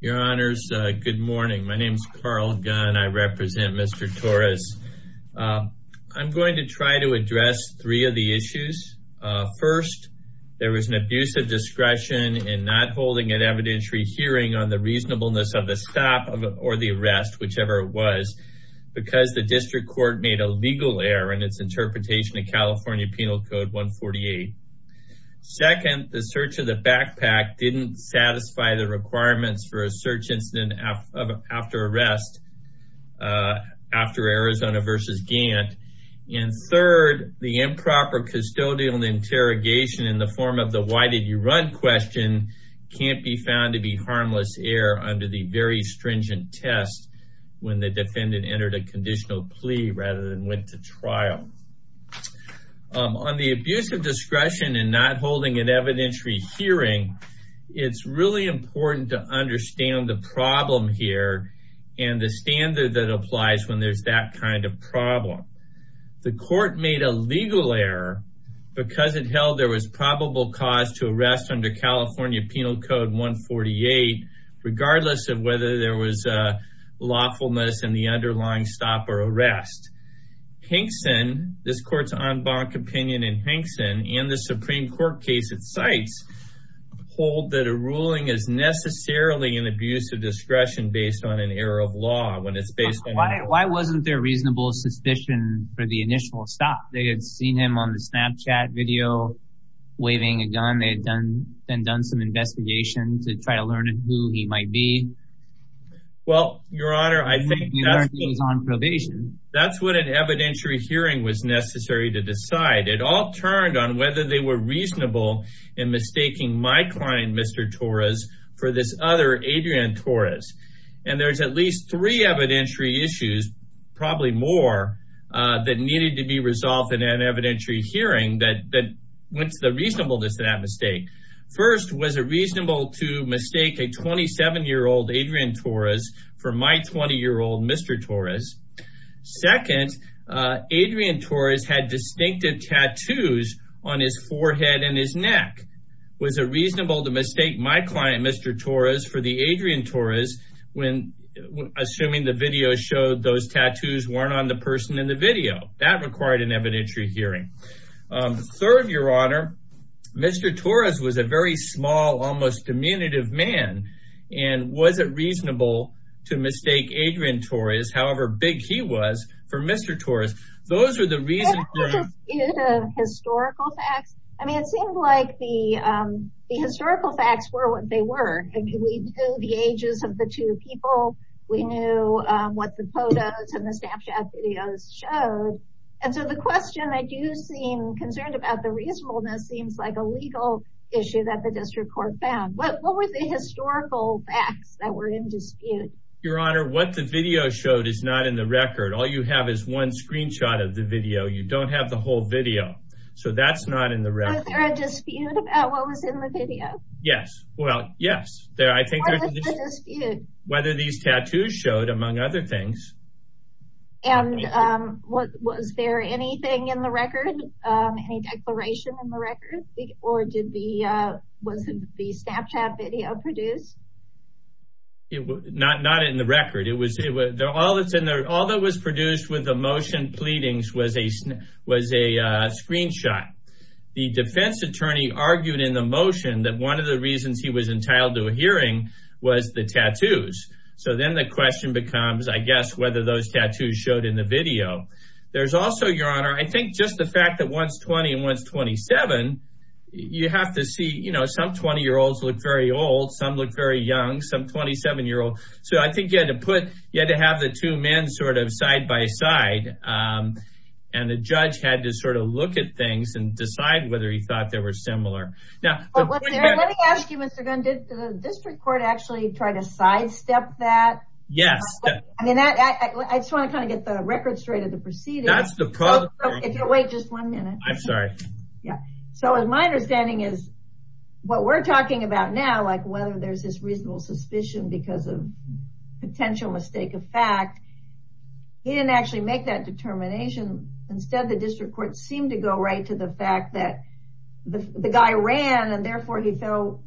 Your honors, good morning. My name is Carl Gunn. I represent Mr. Torres. I'm going to try to address three of the issues. First, there was an abusive discretion in not holding an evidentiary hearing on the reasonableness of the stop or the arrest, whichever it was, because the district court made a legal error in its interpretation of California Penal Code 148. Second, the search of the backpack didn't satisfy the requirements for a search incident after arrest after Arizona v. Gantt. And third, the improper custodial interrogation in the form of the why did you run question can't be found to be harmless error under the very stringent test when the defendant entered a conditional plea rather than went to trial. On the abuse of discretion in not holding an evidentiary hearing, it's really important to understand the problem here and the standard that applies when there's that kind of problem. The court made a legal error because it held there was probable cause to arrest under California Penal Code 148 regardless of whether there was lawfulness in the underlying stop or arrest. Hankson, this court's en banc opinion in Hankson and the Supreme Court case it cites, hold that a ruling is necessarily an abuse of discretion based on an error of law when it's based on... Why wasn't there reasonable suspicion for the initial stop? They had seen him on the Snapchat video waving a gun. They had done some investigation to try to learn who he might be. Well, Your Honor, I think that's what an evidentiary hearing was necessary to decide. It all turned on whether they were reasonable in mistaking my client, Mr. Torres, for this other Adrian Torres. And there's at least three evidentiary issues, probably more that needed to be resolved in an evidentiary hearing that went to the reasonableness of that mistake. First, was it reasonable to mistake a 27-year-old Adrian Torres for my 20-year-old Mr. Torres? Second, Adrian Torres had distinctive tattoos on his forehead and his neck. Was it reasonable to mistake my client, Mr. Torres, for the Adrian Torres assuming the video showed those tattoos weren't on the person in the video? That required an evidentiary hearing. Third, Your Honor, Mr. Torres was a very small, almost diminutive man. And was it reasonable to mistake Adrian Torres, however big he was, for Mr. Torres? Those are the reasons... Your Honor, what the video showed is not in the record. All you have is one screenshot of the video. You don't have the whole video. So that's not in the record. Was there a dispute about what was in the video? Yes, well, yes. What was the dispute? Whether these tattoos showed, among other things. And was there anything in the record? Any declaration in the record? Or was it the Snapchat video produced? Not in the record. All that was produced with the motion pleadings was a screenshot. The defense attorney argued in the motion that one of the reasons he was entitled to a hearing was the tattoos. So then the question becomes, I guess, whether those tattoos showed in the video. There's also, Your Honor, I think just the fact that one's 20 and one's 27, you have to see, you know, some 20-year-olds look very old, some look very young, some 27-year-old. So I think you had to put, you had to have the two men sort of side-by-side. And the judge had to sort of look at things and decide whether he thought they were similar. Let me ask you, Mr. Gunn, did the district court actually try to sidestep that? Yes. I just want to kind of get the record straight of the proceedings. That's the problem. Wait just one minute. I'm sorry. Yeah. So my understanding is what we're talking about now, like whether there's this reasonable suspicion because of potential mistake of fact, he didn't actually make that determination. Instead, the district court seemed to go right to the fact that the guy ran and therefore he fell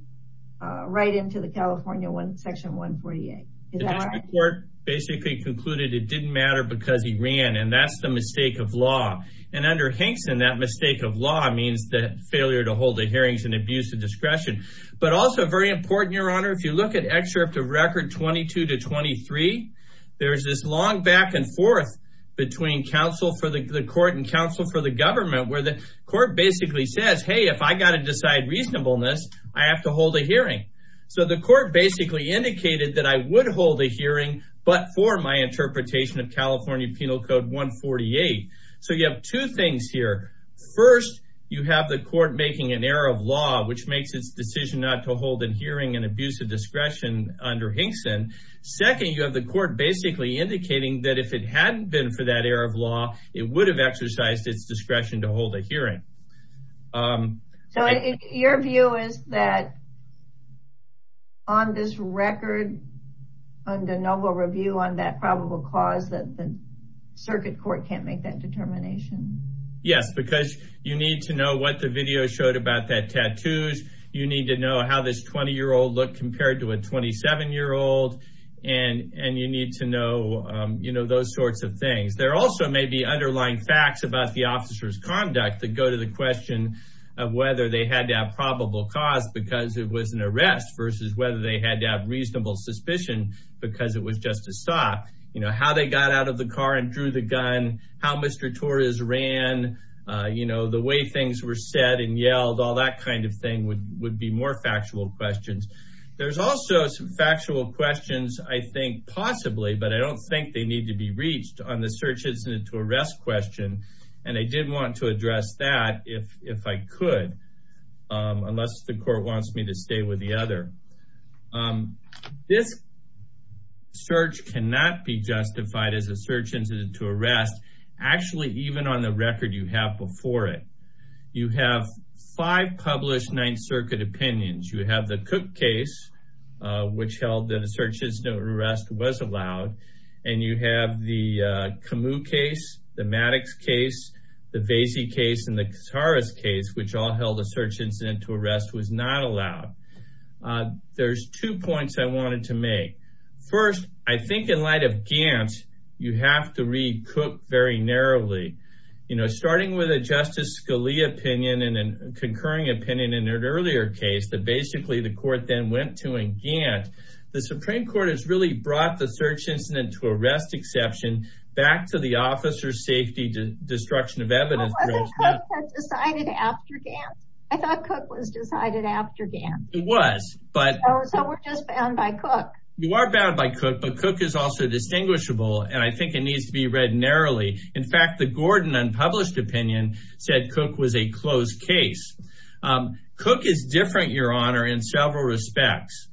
right into the California section 148. The district court basically concluded it didn't matter because he ran and that's the mistake of law. And under Hankson, that mistake of law means the failure to hold the hearings and abuse of discretion. But also very important, Your Honor, if you look at excerpt of record 22 to 23, there's this long back and forth between counsel for the court and counsel for the government where the court basically says, hey, if I got to decide reasonableness, I have to hold a hearing. So the court basically indicated that I would hold a hearing, but for my interpretation of California Penal Code 148. So you have two things here. First, you have the court making an error of law, which makes its decision not to hold a hearing and abuse of discretion under Hankson. Second, you have the court basically indicating that if it hadn't been for that error of law, it would have exercised its discretion to hold a hearing. So your view is that on this record, on the noble review on that probable cause that the circuit court can't make that determination? Yes, because you need to know what the video showed about that tattoos. You need to know how this 20 year old look compared to a 27 year old. And and you need to know, you know, those sorts of things. There also may be underlying facts about the officer's conduct that go to the question of whether they had to have probable cause because it was an arrest versus whether they had to have reasonable suspicion because it was just a stop. You know how they got out of the car and drew the gun, how Mr. Torres ran, you know, the way things were said and yelled, all that kind of thing would would be more factual questions. There's also some factual questions, I think, possibly, but I don't think they need to be reached on the search incident to arrest question. And I did want to address that if if I could, unless the court wants me to stay with the other. This. Search cannot be justified as a search incident to arrest, actually, even on the record you have before it. You have five published Ninth Circuit opinions. You have the Cook case, which held that a search is no arrest was allowed. And you have the Camus case, the Maddox case, the Vasey case and the Harris case, which all held a search incident to arrest was not allowed. There's two points I wanted to make. First, I think in light of Gant, you have to read Cook very narrowly. You know, starting with a Justice Scalia opinion and a concurring opinion in an earlier case that basically the court then went to in Gant. The Supreme Court has really brought the search incident to arrest exception back to the officer's safety. The destruction of evidence was decided after Gant. I thought Cook was decided after Gant. It was. But so we're just bound by Cook. You are bound by Cook. But Cook is also distinguishable. And I think it needs to be read narrowly. In fact, the Gordon unpublished opinion said Cook was a closed case. Cook is different, Your Honor, in several respects.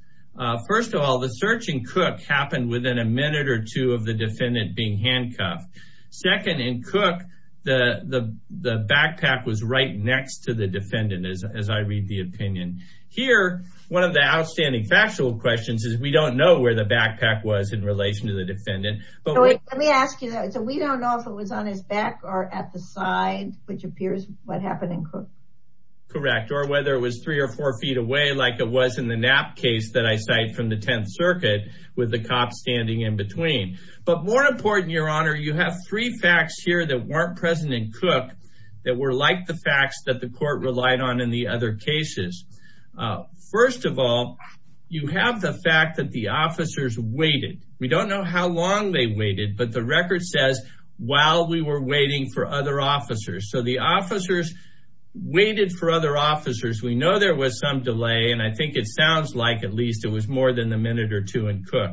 First of all, the search in Cook happened within a minute or two of the defendant being handcuffed. Second, in Cook, the backpack was right next to the defendant, as I read the opinion. Here, one of the outstanding factual questions is we don't know where the backpack was in relation to the defendant. Let me ask you that. So we don't know if it was on his back or at the side, which appears what happened in Cook. Correct. Or whether it was three or four feet away like it was in the nap case that I cite from the Tenth Circuit with the cops standing in between. But more important, Your Honor, you have three facts here that weren't present in Cook that were like the facts that the court relied on in the other cases. First of all, you have the fact that the officers waited. We don't know how long they waited, but the record says while we were waiting for other officers. So the officers waited for other officers. We know there was some delay, and I think it sounds like at least it was more than a minute or two in Cook.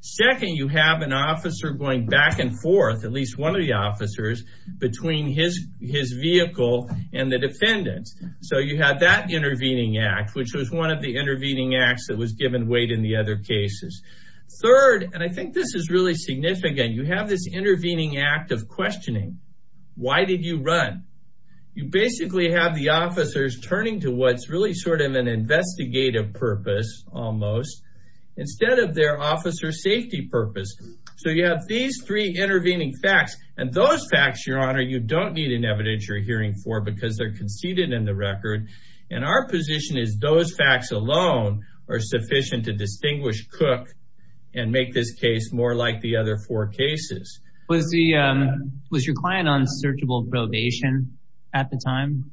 Second, you have an officer going back and forth, at least one of the officers, between his vehicle and the defendant. So you have that intervening act, which was one of the intervening acts that was given weight in the other cases. Third, and I think this is really significant, you have this intervening act of questioning. Why did you run? You basically have the officers turning to what's really sort of an investigative purpose, almost, instead of their officer safety purpose. So you have these three intervening facts, and those facts, Your Honor, you don't need an evidence you're hearing for because they're conceded in the record. And our position is those facts alone are sufficient to distinguish Cook and make this case more like the other four cases. Was your client on searchable probation at the time?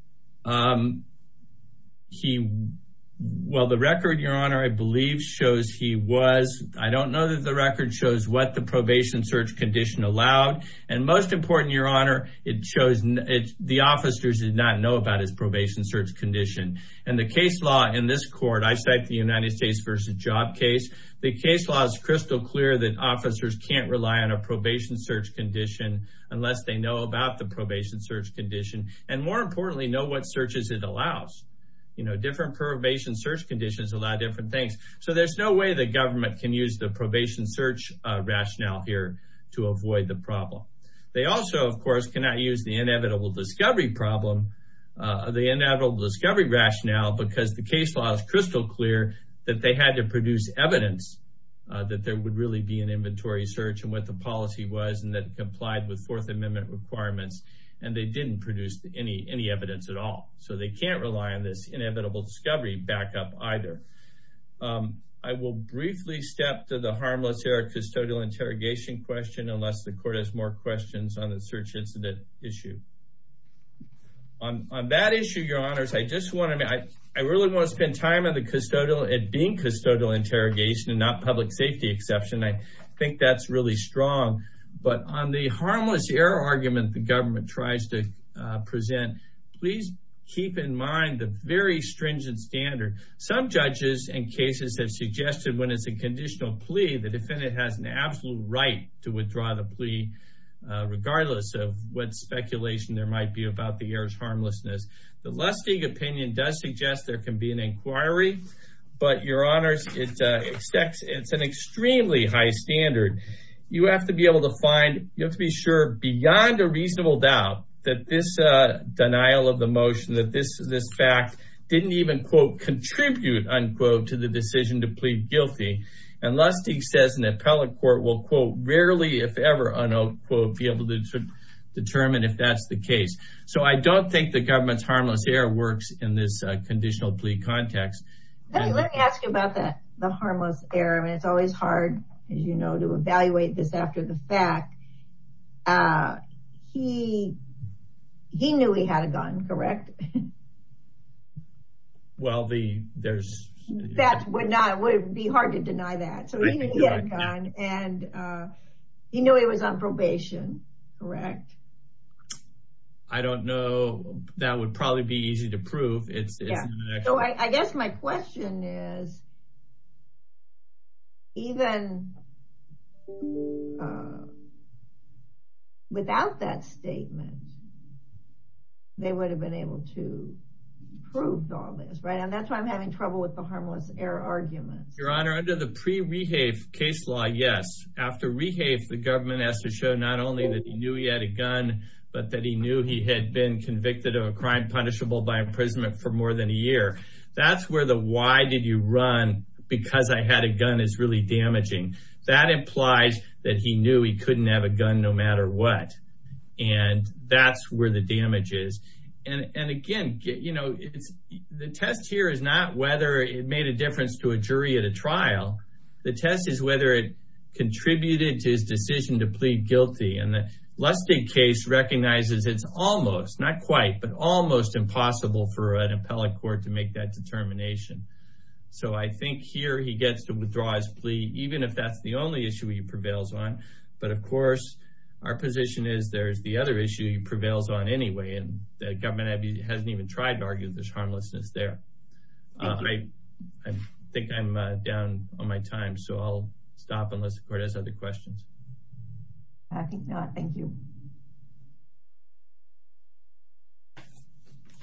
Well, the record, Your Honor, I believe shows he was. I don't know that the record shows what the probation search condition allowed. And most important, Your Honor, it shows the officers did not know about his probation search condition. And the case law in this court, I cite the United States v. Job case. The case law is crystal clear that officers can't rely on a probation search condition unless they know about the probation search condition. And more importantly, know what searches it allows. You know, different probation search conditions allow different things. So there's no way the government can use the probation search rationale here to avoid the problem. They also, of course, cannot use the inevitable discovery problem, the inevitable discovery rationale, because the case law is crystal clear that they had to produce evidence that there would really be an inventory search and what the policy was, and that it complied with Fourth Amendment requirements, and they didn't produce any evidence at all. So they can't rely on this inevitable discovery backup either. I will briefly step to the harmless error custodial interrogation question unless the court has more questions on the search incident issue. On that issue, Your Honors, I just want to – I really want to spend time on the custodial – it being custodial interrogation and not public safety exception. I think that's really strong. But on the harmless error argument the government tries to present, please keep in mind the very stringent standard. Some judges in cases have suggested when it's a conditional plea, the defendant has an absolute right to withdraw the plea, regardless of what speculation there might be about the error's harmlessness. The Lustig opinion does suggest there can be an inquiry, but, Your Honors, it's an extremely high standard. You have to be able to find – you have to be sure beyond a reasonable doubt that this denial of the motion, that this fact didn't even, quote, contribute, unquote, to the decision to plead guilty. And Lustig says an appellate court will, quote, rarely if ever, unquote, be able to determine if that's the case. So I don't think the government's harmless error works in this conditional plea context. Let me ask you about the harmless error. I mean, it's always hard, as you know, to evaluate this after the fact. He knew he had a gun, correct? Well, there's – That would be hard to deny that. So he knew he had a gun, and he knew he was on probation, correct? I don't know. That would probably be easy to prove. So I guess my question is, even without that statement, they would have been able to prove all this, right? And that's why I'm having trouble with the harmless error arguments. Your Honor, under the pre-Rehafe case law, yes. After Rehafe, the government has to show not only that he knew he had a gun, but that he knew he had been convicted of a crime punishable by imprisonment for more than a year. That's where the why did you run because I had a gun is really damaging. That implies that he knew he couldn't have a gun no matter what. And that's where the damage is. And, again, you know, the test here is not whether it made a difference to a jury at a trial. The test is whether it contributed to his decision to plead guilty. And the Lustig case recognizes it's almost, not quite, but almost impossible for an appellate court to make that determination. So I think here he gets to withdraw his plea, even if that's the only issue he prevails on. But, of course, our position is there is the other issue he prevails on anyway, and the government hasn't even tried to argue that there's harmlessness there. I think I'm down on my time, so I'll stop unless the court has other questions. I think not. Thank you.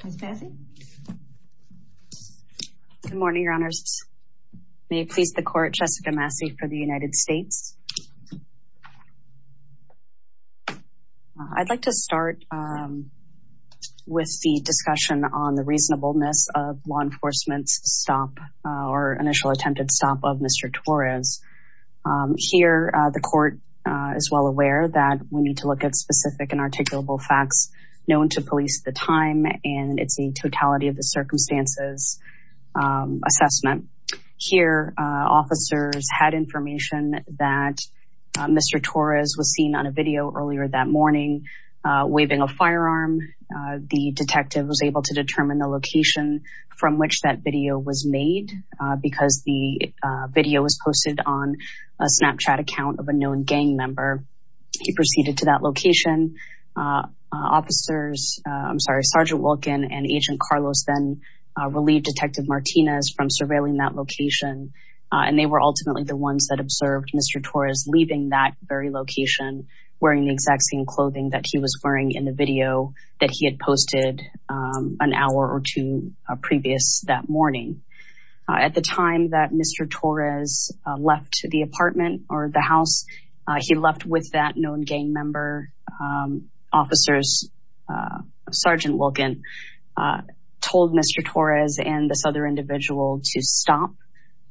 Ms. Massey? Good morning, Your Honors. May it please the court, Jessica Massey for the United States. I'd like to start with the discussion on the reasonableness of law enforcement's stop or initial attempted stop of Mr. Torres. Here, the court is well aware that we need to look at specific and articulable facts known to police at the time, and it's a totality of the circumstances assessment. Here, officers had information that Mr. Torres was seen on a video earlier that morning waving a firearm. The detective was able to determine the location from which that video was made because the video was posted on a Snapchat account of a known gang member. He proceeded to that location. Sergeant Wilkin and Agent Carlos then relieved Detective Martinez from surveilling that location, and they were ultimately the ones that observed Mr. Torres leaving that very location wearing the exact same clothing that he was wearing in the video that he had posted an hour or two previous that morning. At the time that Mr. Torres left the apartment or the house, he left with that known gang member. Officers, Sergeant Wilkin, told Mr. Torres and this other individual to stop,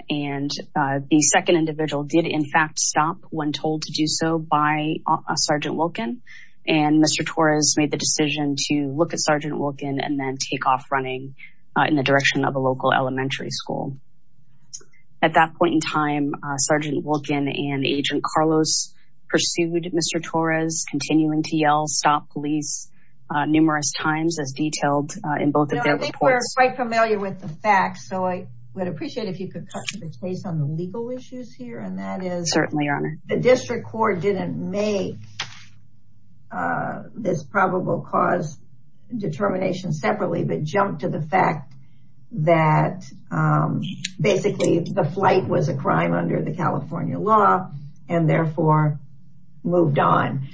and the second individual did in fact stop when told to do so by Sergeant Wilkin, and Mr. Torres made the decision to look at Sergeant Wilkin and then take off running in the direction of a local elementary school. At that point in time, Sergeant Wilkin and Agent Carlos pursued Mr. Torres, continuing to yell, stop police numerous times as detailed in both of their reports. You are quite familiar with the facts, so I would appreciate if you could cut to the chase on the legal issues here, and that is the district court didn't make this probable cause determination separately but jumped to the fact that basically the flight was a crime under the California law and therefore moved on.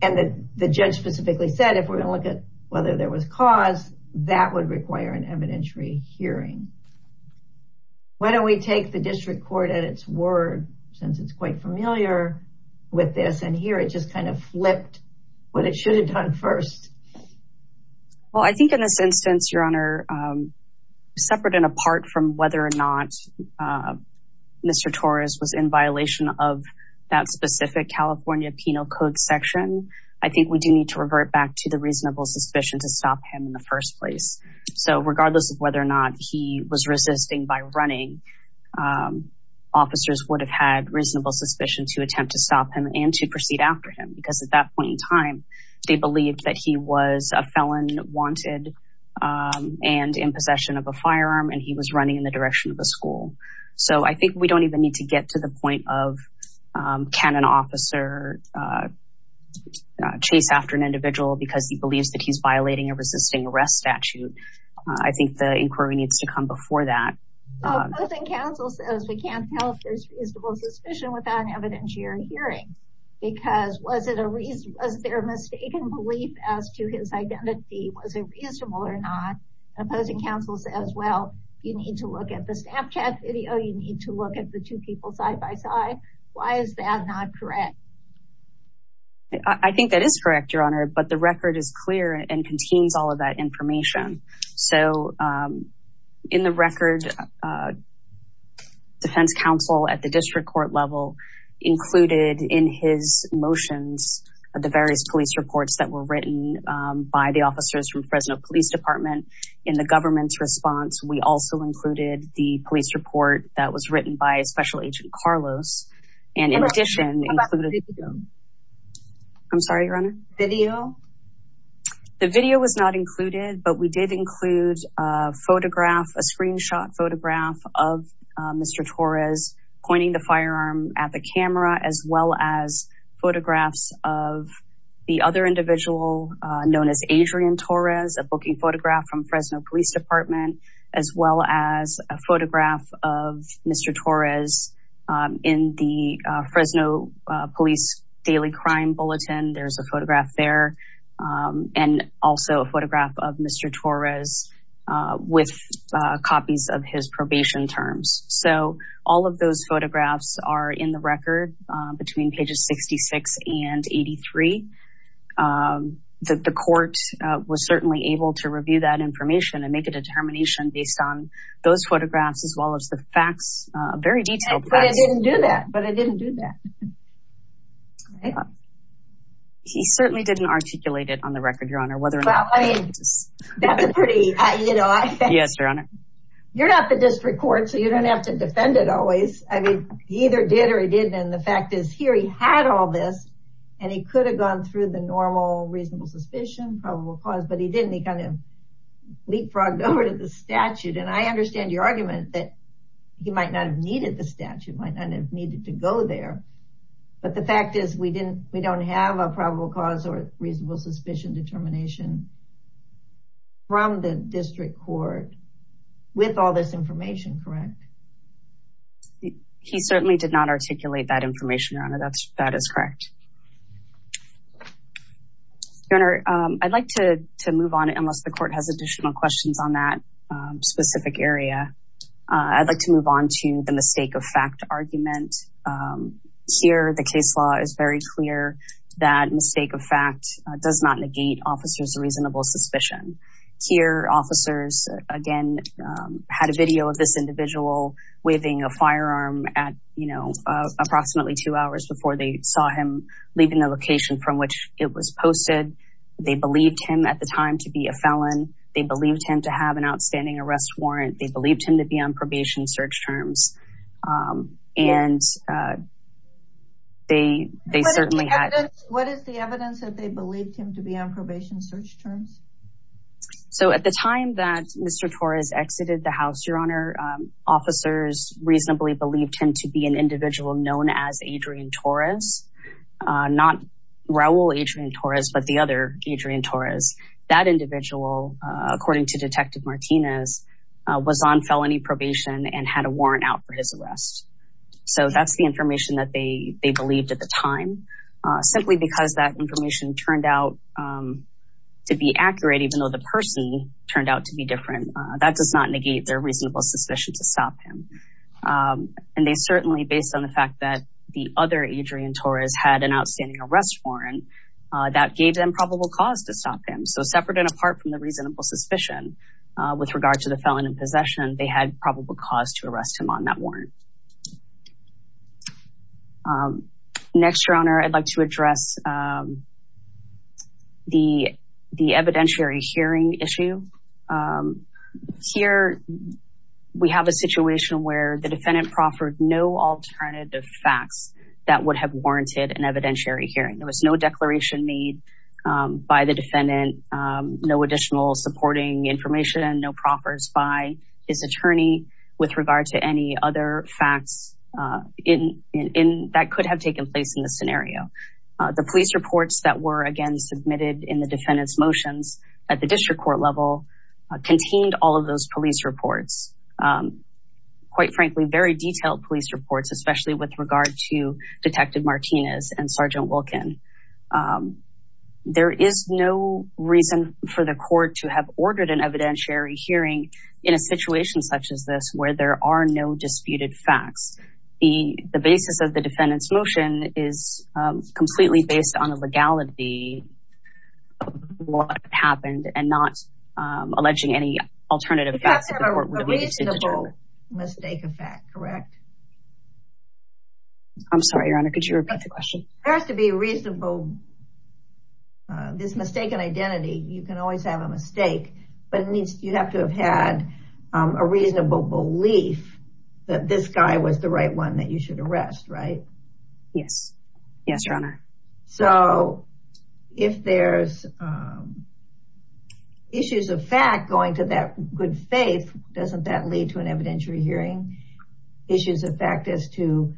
And the judge specifically said if we're going to look at whether there was cause, that would require an evidentiary hearing. Why don't we take the district court at its word, since it's quite familiar with this, and here it just kind of flipped what it should have done first. Well, I think in this instance, Your Honor, separate and apart from whether or not Mr. Torres was in violation of that specific California penal code section, I think we do need to revert back to the reasonable suspicion to stop him in the first place. So regardless of whether or not he was resisting by running, officers would have had reasonable suspicion to attempt to stop him and to proceed after him because at that point in time, they believed that he was a felon wanted and in possession of a firearm and he was running in the direction of a school. So I think we don't even need to get to the point of can an officer chase after an individual because he believes that he's violating a resisting arrest statute. I think the inquiry needs to come before that. Opposing counsel says we can't tell if there's reasonable suspicion without an evidentiary hearing because was there a mistaken belief as to his identity? Was it reasonable or not? Opposing counsel says, well, you need to look at the Snapchat video. You need to look at the two people side by side. Why is that not correct? I think that is correct, Your Honor, but the record is clear and contains all of that information. So in the record, defense counsel at the district court level included in his motions, the various police reports that were written by the officers from Fresno Police Department in the government's response. We also included the police report that was written by Special Agent Carlos. And in addition, I'm sorry, Your Honor. Video? The video was not included, but we did include a photograph, a screenshot photograph of Mr. Torres pointing the firearm at the camera, as well as photographs of the other individual known as Adrian Torres, a booking photograph from Fresno Police Department, as well as a photograph of Mr. Torres in the Fresno Police Daily Crime Bulletin. There's a photograph there and also a photograph of Mr. Torres with copies of his probation terms. So all of those photographs are in the record between pages 66 and 83. The court was certainly able to review that information and make a determination based on those photographs, as well as the facts, very detailed facts. But it didn't do that, but it didn't do that. He certainly didn't articulate it on the record, Your Honor. Well, I mean, that's a pretty, you know. Yes, Your Honor. You're not the district court, so you don't have to defend it always. I mean, he either did or he didn't. And the fact is here he had all this, and he could have gone through the normal reasonable suspicion, probable cause, but he didn't. He kind of leapfrogged over to the statute. And I understand your argument that he might not have needed the statute, might not have needed to go there. But the fact is we don't have a probable cause or reasonable suspicion determination from the district court with all this information, correct? He certainly did not articulate that information, Your Honor. That is correct. Your Honor, I'd like to move on, unless the court has additional questions on that specific area. I'd like to move on to the mistake of fact argument. Here the case law is very clear that mistake of fact does not negate officer's reasonable suspicion. Here officers, again, had a video of this individual waving a firearm at, you know, approximately two hours before they saw him leaving the location from which it was posted. They believed him at the time to be a felon. They believed him to have an outstanding arrest warrant. They believed him to be on probation search terms. And they certainly had... What is the evidence that they believed him to be on probation search terms? So at the time that Mr. Torres exited the house, Your Honor, officers reasonably believed him to be an individual known as Adrian Torres. Not Raul Adrian Torres, but the other Adrian Torres. That individual, according to Detective Martinez, was on felony probation and had a warrant out for his arrest. So that's the information that they believed at the time. Simply because that information turned out to be accurate, even though the person turned out to be different, that does not negate their reasonable suspicion to stop him. And they certainly, based on the fact that the other Adrian Torres had an outstanding arrest warrant, that gave them probable cause to stop him. So separate and apart from the reasonable suspicion with regard to the felon in possession, they had probable cause to arrest him on that warrant. Next, Your Honor, I'd like to address the evidentiary hearing issue. Here, we have a situation where the defendant proffered no alternative facts that would have warranted an evidentiary hearing. There was no declaration made by the defendant, no additional supporting information, no proffers by his attorney with regard to any other facts that could have taken place in this scenario. The police reports that were, again, submitted in the defendant's motions at the district court level contained all of those police reports. Quite frankly, very detailed police reports, especially with regard to Detective Martinez and Sergeant Wilkin. There is no reason for the court to have ordered an evidentiary hearing in a situation such as this where there are no disputed facts. The basis of the defendant's motion is completely based on the legality of what happened and not alleging any alternative facts that the court would have needed to deter. It has to have a reasonable mistake of fact, correct? I'm sorry, Your Honor, could you repeat the question? There has to be a reasonable, this mistaken identity, you can always have a mistake, but you have to have had a reasonable belief that this guy was the right one that you should arrest, right? Yes. Yes, Your Honor. So, if there's issues of fact going to that good faith, doesn't that lead to an evidentiary hearing? Issues of fact as to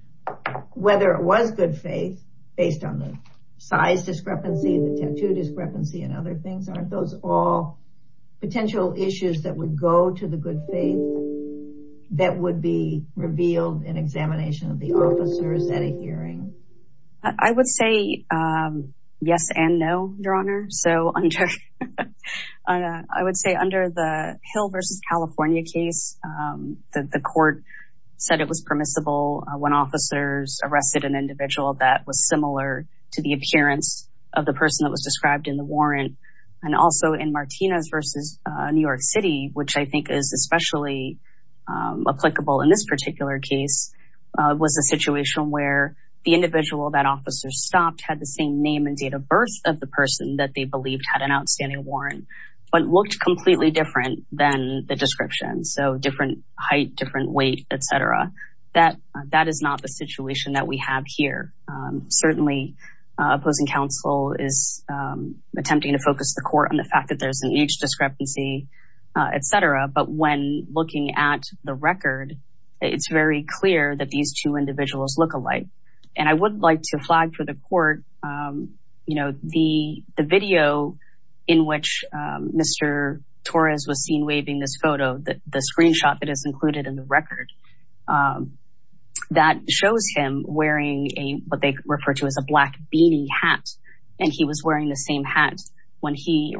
whether it was good faith based on the size discrepancy, the tattoo discrepancy, and other things, aren't those all potential issues that would go to the good faith that would be revealed in examination of the officers at a hearing? I would say yes and no, Your Honor. So, I would say under the Hill versus California case, the court said it was permissible when officers arrested an individual that was similar to the appearance of the person that was described in the warrant. And also in Martinez versus New York City, which I think is especially applicable in this particular case, was a situation where the individual that officers stopped had the same name and date of birth of the person that they believed had an outstanding warrant, but looked completely different than the description. So, different height, different weight, et cetera. That is not the situation that we have here. Certainly, opposing counsel is attempting to focus the court on the fact that there's an age discrepancy, et cetera. But when looking at the record, it's very clear that these two individuals look alike. And I would like to flag for the court, you know, the video in which Mr. Torres was seen waving this photo, the screenshot that is included in the record, that shows him wearing what they refer to as a black beanie hat. And he was wearing the same hat when he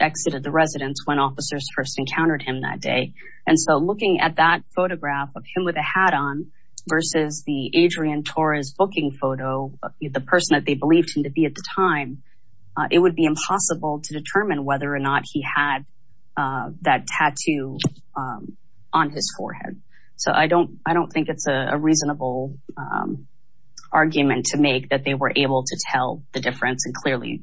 exited the residence when officers first encountered him that day. And so, looking at that photograph of him with a hat on versus the Adrian Torres booking photo, the person that they believed him to be at the time, it would be impossible to determine whether or not he had that tattoo on his forehead. So, I don't think it's a reasonable argument to make that they were able to tell the difference and clearly,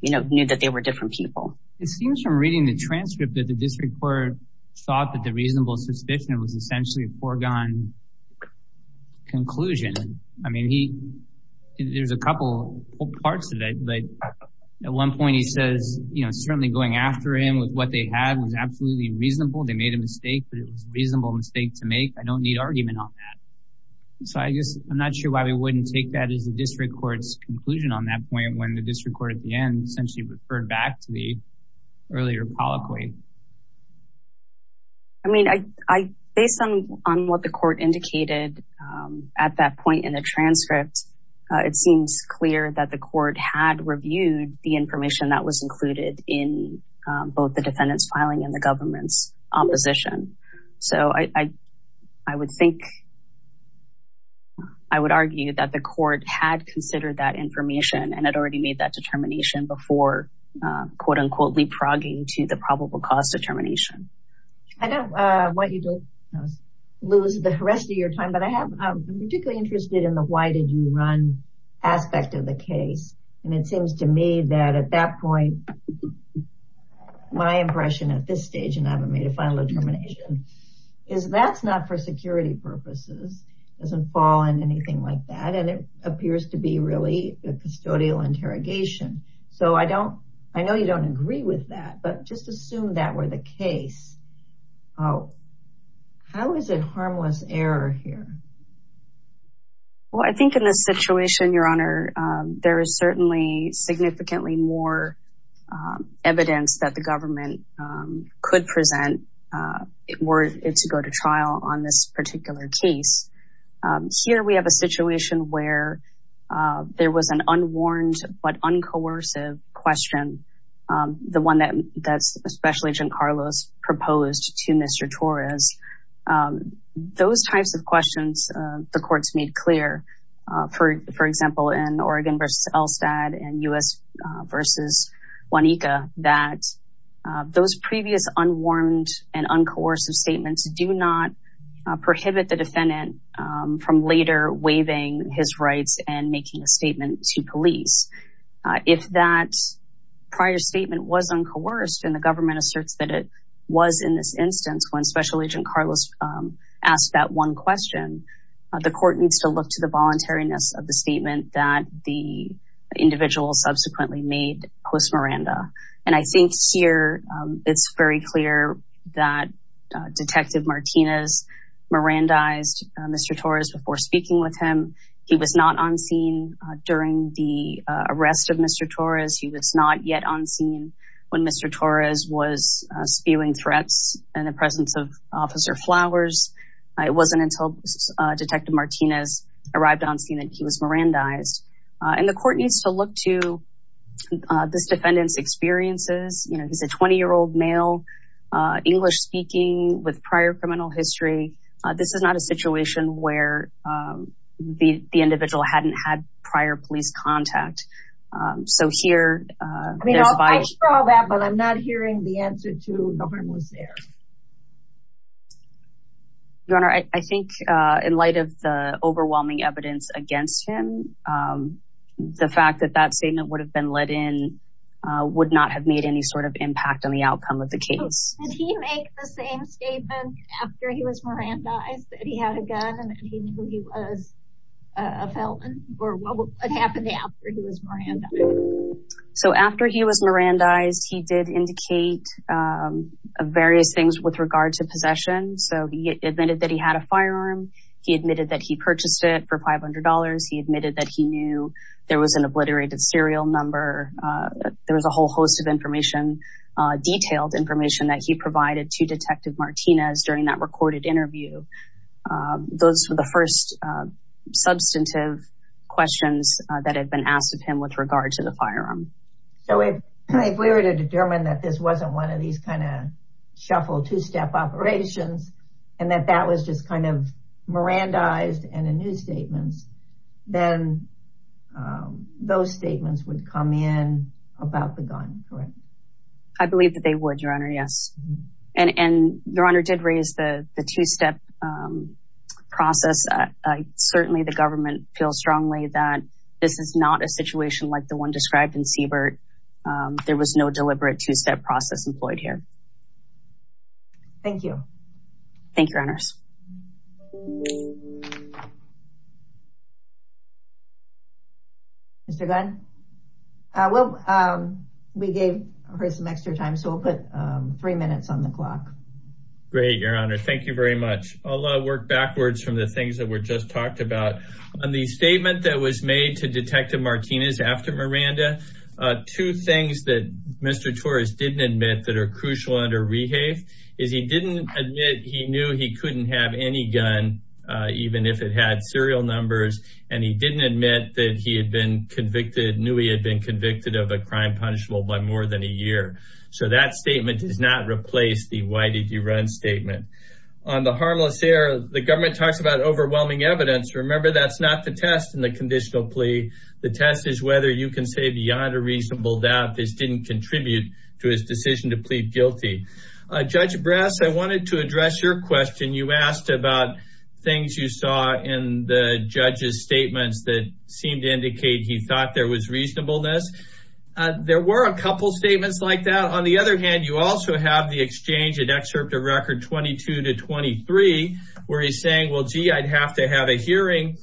you know, knew that they were different people. It seems from reading the transcript that the district court thought that the reasonable suspicion was essentially a foregone conclusion. I mean, there's a couple parts to that. But at one point, he says, you know, certainly going after him with what they had was absolutely reasonable. They made a mistake, but it was a reasonable mistake to make. I don't need argument on that. So, I guess I'm not sure why we wouldn't take that as the district court's conclusion on that point when the district court at the end essentially referred back to the earlier polyploid. I mean, based on what the court indicated at that point in the transcript, it seems clear that the court had reviewed the information that was included in both the defendant's filing and the government's opposition. So, I would think, I would argue that the court had considered that information and had already made that determination before, quote unquote, leapfrogging to the probable cause determination. I don't want you to lose the rest of your time, but I'm particularly interested in the why did you run aspect of the case. And it seems to me that at that point, my impression at this stage, and I haven't made a final determination, is that's not for security purposes. It doesn't fall in anything like that. And it appears to be really a custodial interrogation. So, I don't, I know you don't agree with that, but just assume that were the case. How is it harmless error here? Well, I think in this situation, Your Honor, there is certainly significantly more evidence that the government could present were it to go to trial on this particular case. Here, we have a situation where there was an unwarned but uncoercive question. The one that Special Agent Carlos proposed to Mr. Torres. Those types of questions the courts made clear, for example, in Oregon versus Elstad and U.S. versus Juanica, that those previous unwarned and uncoercive statements do not prohibit the defendant from later waiving his rights and making a statement to police. If that prior statement was uncoerced and the government asserts that it was in this instance when Special Agent Carlos asked that one question, the court needs to look to the voluntariness of the statement that the individual subsequently made post Miranda. And I think here, it's very clear that Detective Martinez Mirandized Mr. Torres before speaking with him. He was not on scene during the arrest of Mr. Torres. He was not yet on scene when Mr. Torres was spewing threats in the presence of Officer Flowers. It wasn't until Detective Martinez arrived on scene that he was Mirandized. And the court needs to look to this defendant's experiences. You know, he's a 20-year-old male, English speaking with prior criminal history. This is not a situation where the individual hadn't had prior police contact. I mean, I saw that, but I'm not hearing the answer to no one was there. Your Honor, I think in light of the overwhelming evidence against him, the fact that that statement would have been let in would not have made any sort of impact on the outcome of the case. Did he make the same statement after he was Mirandized that he had a gun and that he knew he was a felon? Or what happened after he was Mirandized? So after he was Mirandized, he did indicate various things with regard to possession. So he admitted that he had a firearm. He admitted that he purchased it for $500. He admitted that he knew there was an obliterated serial number. There was a whole host of information, detailed information that he provided to Detective Martinez during that recorded interview. Those were the first substantive questions that had been asked of him with regard to the firearm. So if we were to determine that this wasn't one of these kind of shuffled two-step operations, and that that was just kind of Mirandized in the new statements, then those statements would come in about the gun, correct? I believe that they would, Your Honor, yes. And Your Honor did raise the two-step process. Certainly, the government feels strongly that this is not a situation like the one described in Siebert. There was no deliberate two-step process employed here. Thank you. Thank you, Your Honors. Mr. Gunn? Well, we gave her some extra time, so we'll put three minutes on the clock. Great, Your Honor. Thank you very much. I'll work backwards from the things that were just talked about. On the statement that was made to Detective Martinez after Miranda, two things that Mr. Torres didn't admit that are crucial under rehave is he didn't admit he knew he couldn't have any gun, even if it had serial numbers, and he didn't admit that he had been convicted, knew he had been convicted of a crime punishable by more than a year. So that statement does not replace the why did you run statement. On the harmless error, the government talks about overwhelming evidence. Remember, that's not the test in the conditional plea. The test is whether you can say beyond a reasonable doubt this didn't contribute to his decision to plead guilty. Judge Brass, I wanted to address your question. You asked about things you saw in the judge's statements that seemed to indicate he thought there was reasonableness. There were a couple statements like that. On the other hand, you also have the exchange in excerpt of record 22 to 23, where he's saying, well, gee, I'd have to have a hearing.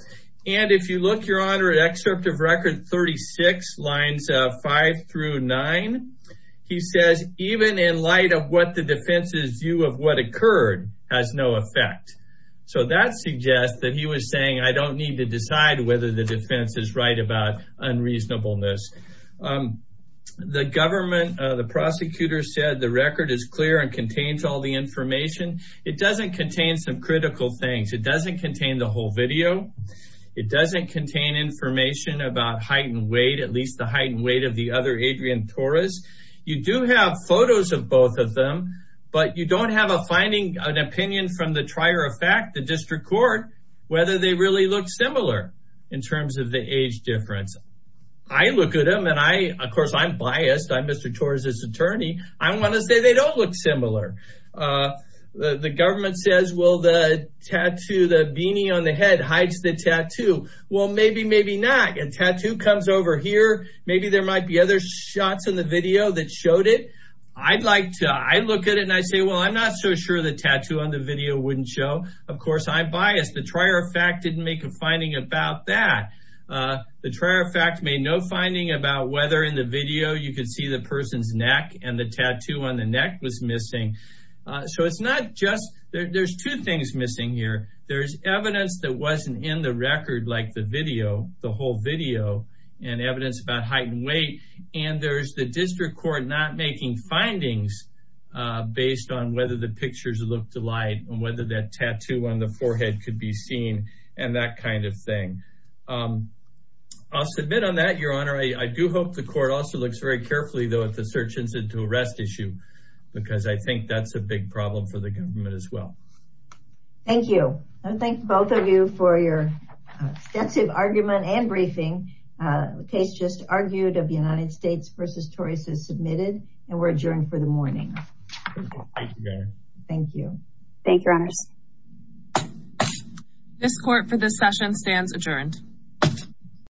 And if you look, Your Honor, at excerpt of record 36, lines 5 through 9, he says, even in light of what the defense's view of what occurred has no effect. So that suggests that he was saying I don't need to decide whether the defense is right about unreasonableness. The government, the prosecutor said the record is clear and contains all the information. It doesn't contain some critical things. It doesn't contain the whole video. It doesn't contain information about height and weight, at least the height and weight of the other Adrian Torres. You do have photos of both of them, but you don't have a finding, an opinion from the trier of fact, the district court, whether they really look similar in terms of the age difference. I look at him and I, of course, I'm biased. I'm Mr. Torres's attorney. I want to say they don't look similar. The government says, well, the tattoo, the beanie on the head hides the tattoo. Well, maybe, maybe not. And tattoo comes over here. Maybe there might be other shots in the video that showed it. I'd like to I look at it and I say, well, I'm not so sure the tattoo on the video wouldn't show. Of course, I'm biased. The trier of fact didn't make a finding about that. The trier of fact made no finding about whether in the video you could see the person's neck and the tattoo on the neck was missing. So it's not just there's two things missing here. There's evidence that wasn't in the record, like the video, the whole video and evidence about height and weight. And there's the district court not making findings based on whether the pictures look delight and whether that tattoo on the forehead could be seen and that kind of thing. I'll submit on that, Your Honor. I do hope the court also looks very carefully, though, at the search incident to arrest issue, because I think that's a big problem for the government as well. Thank you. I thank both of you for your extensive argument and briefing. The case just argued of the United States v. Torres is submitted and we're adjourned for the morning. Thank you. Thank you. Thank you, Your Honors. This court for this session stands adjourned.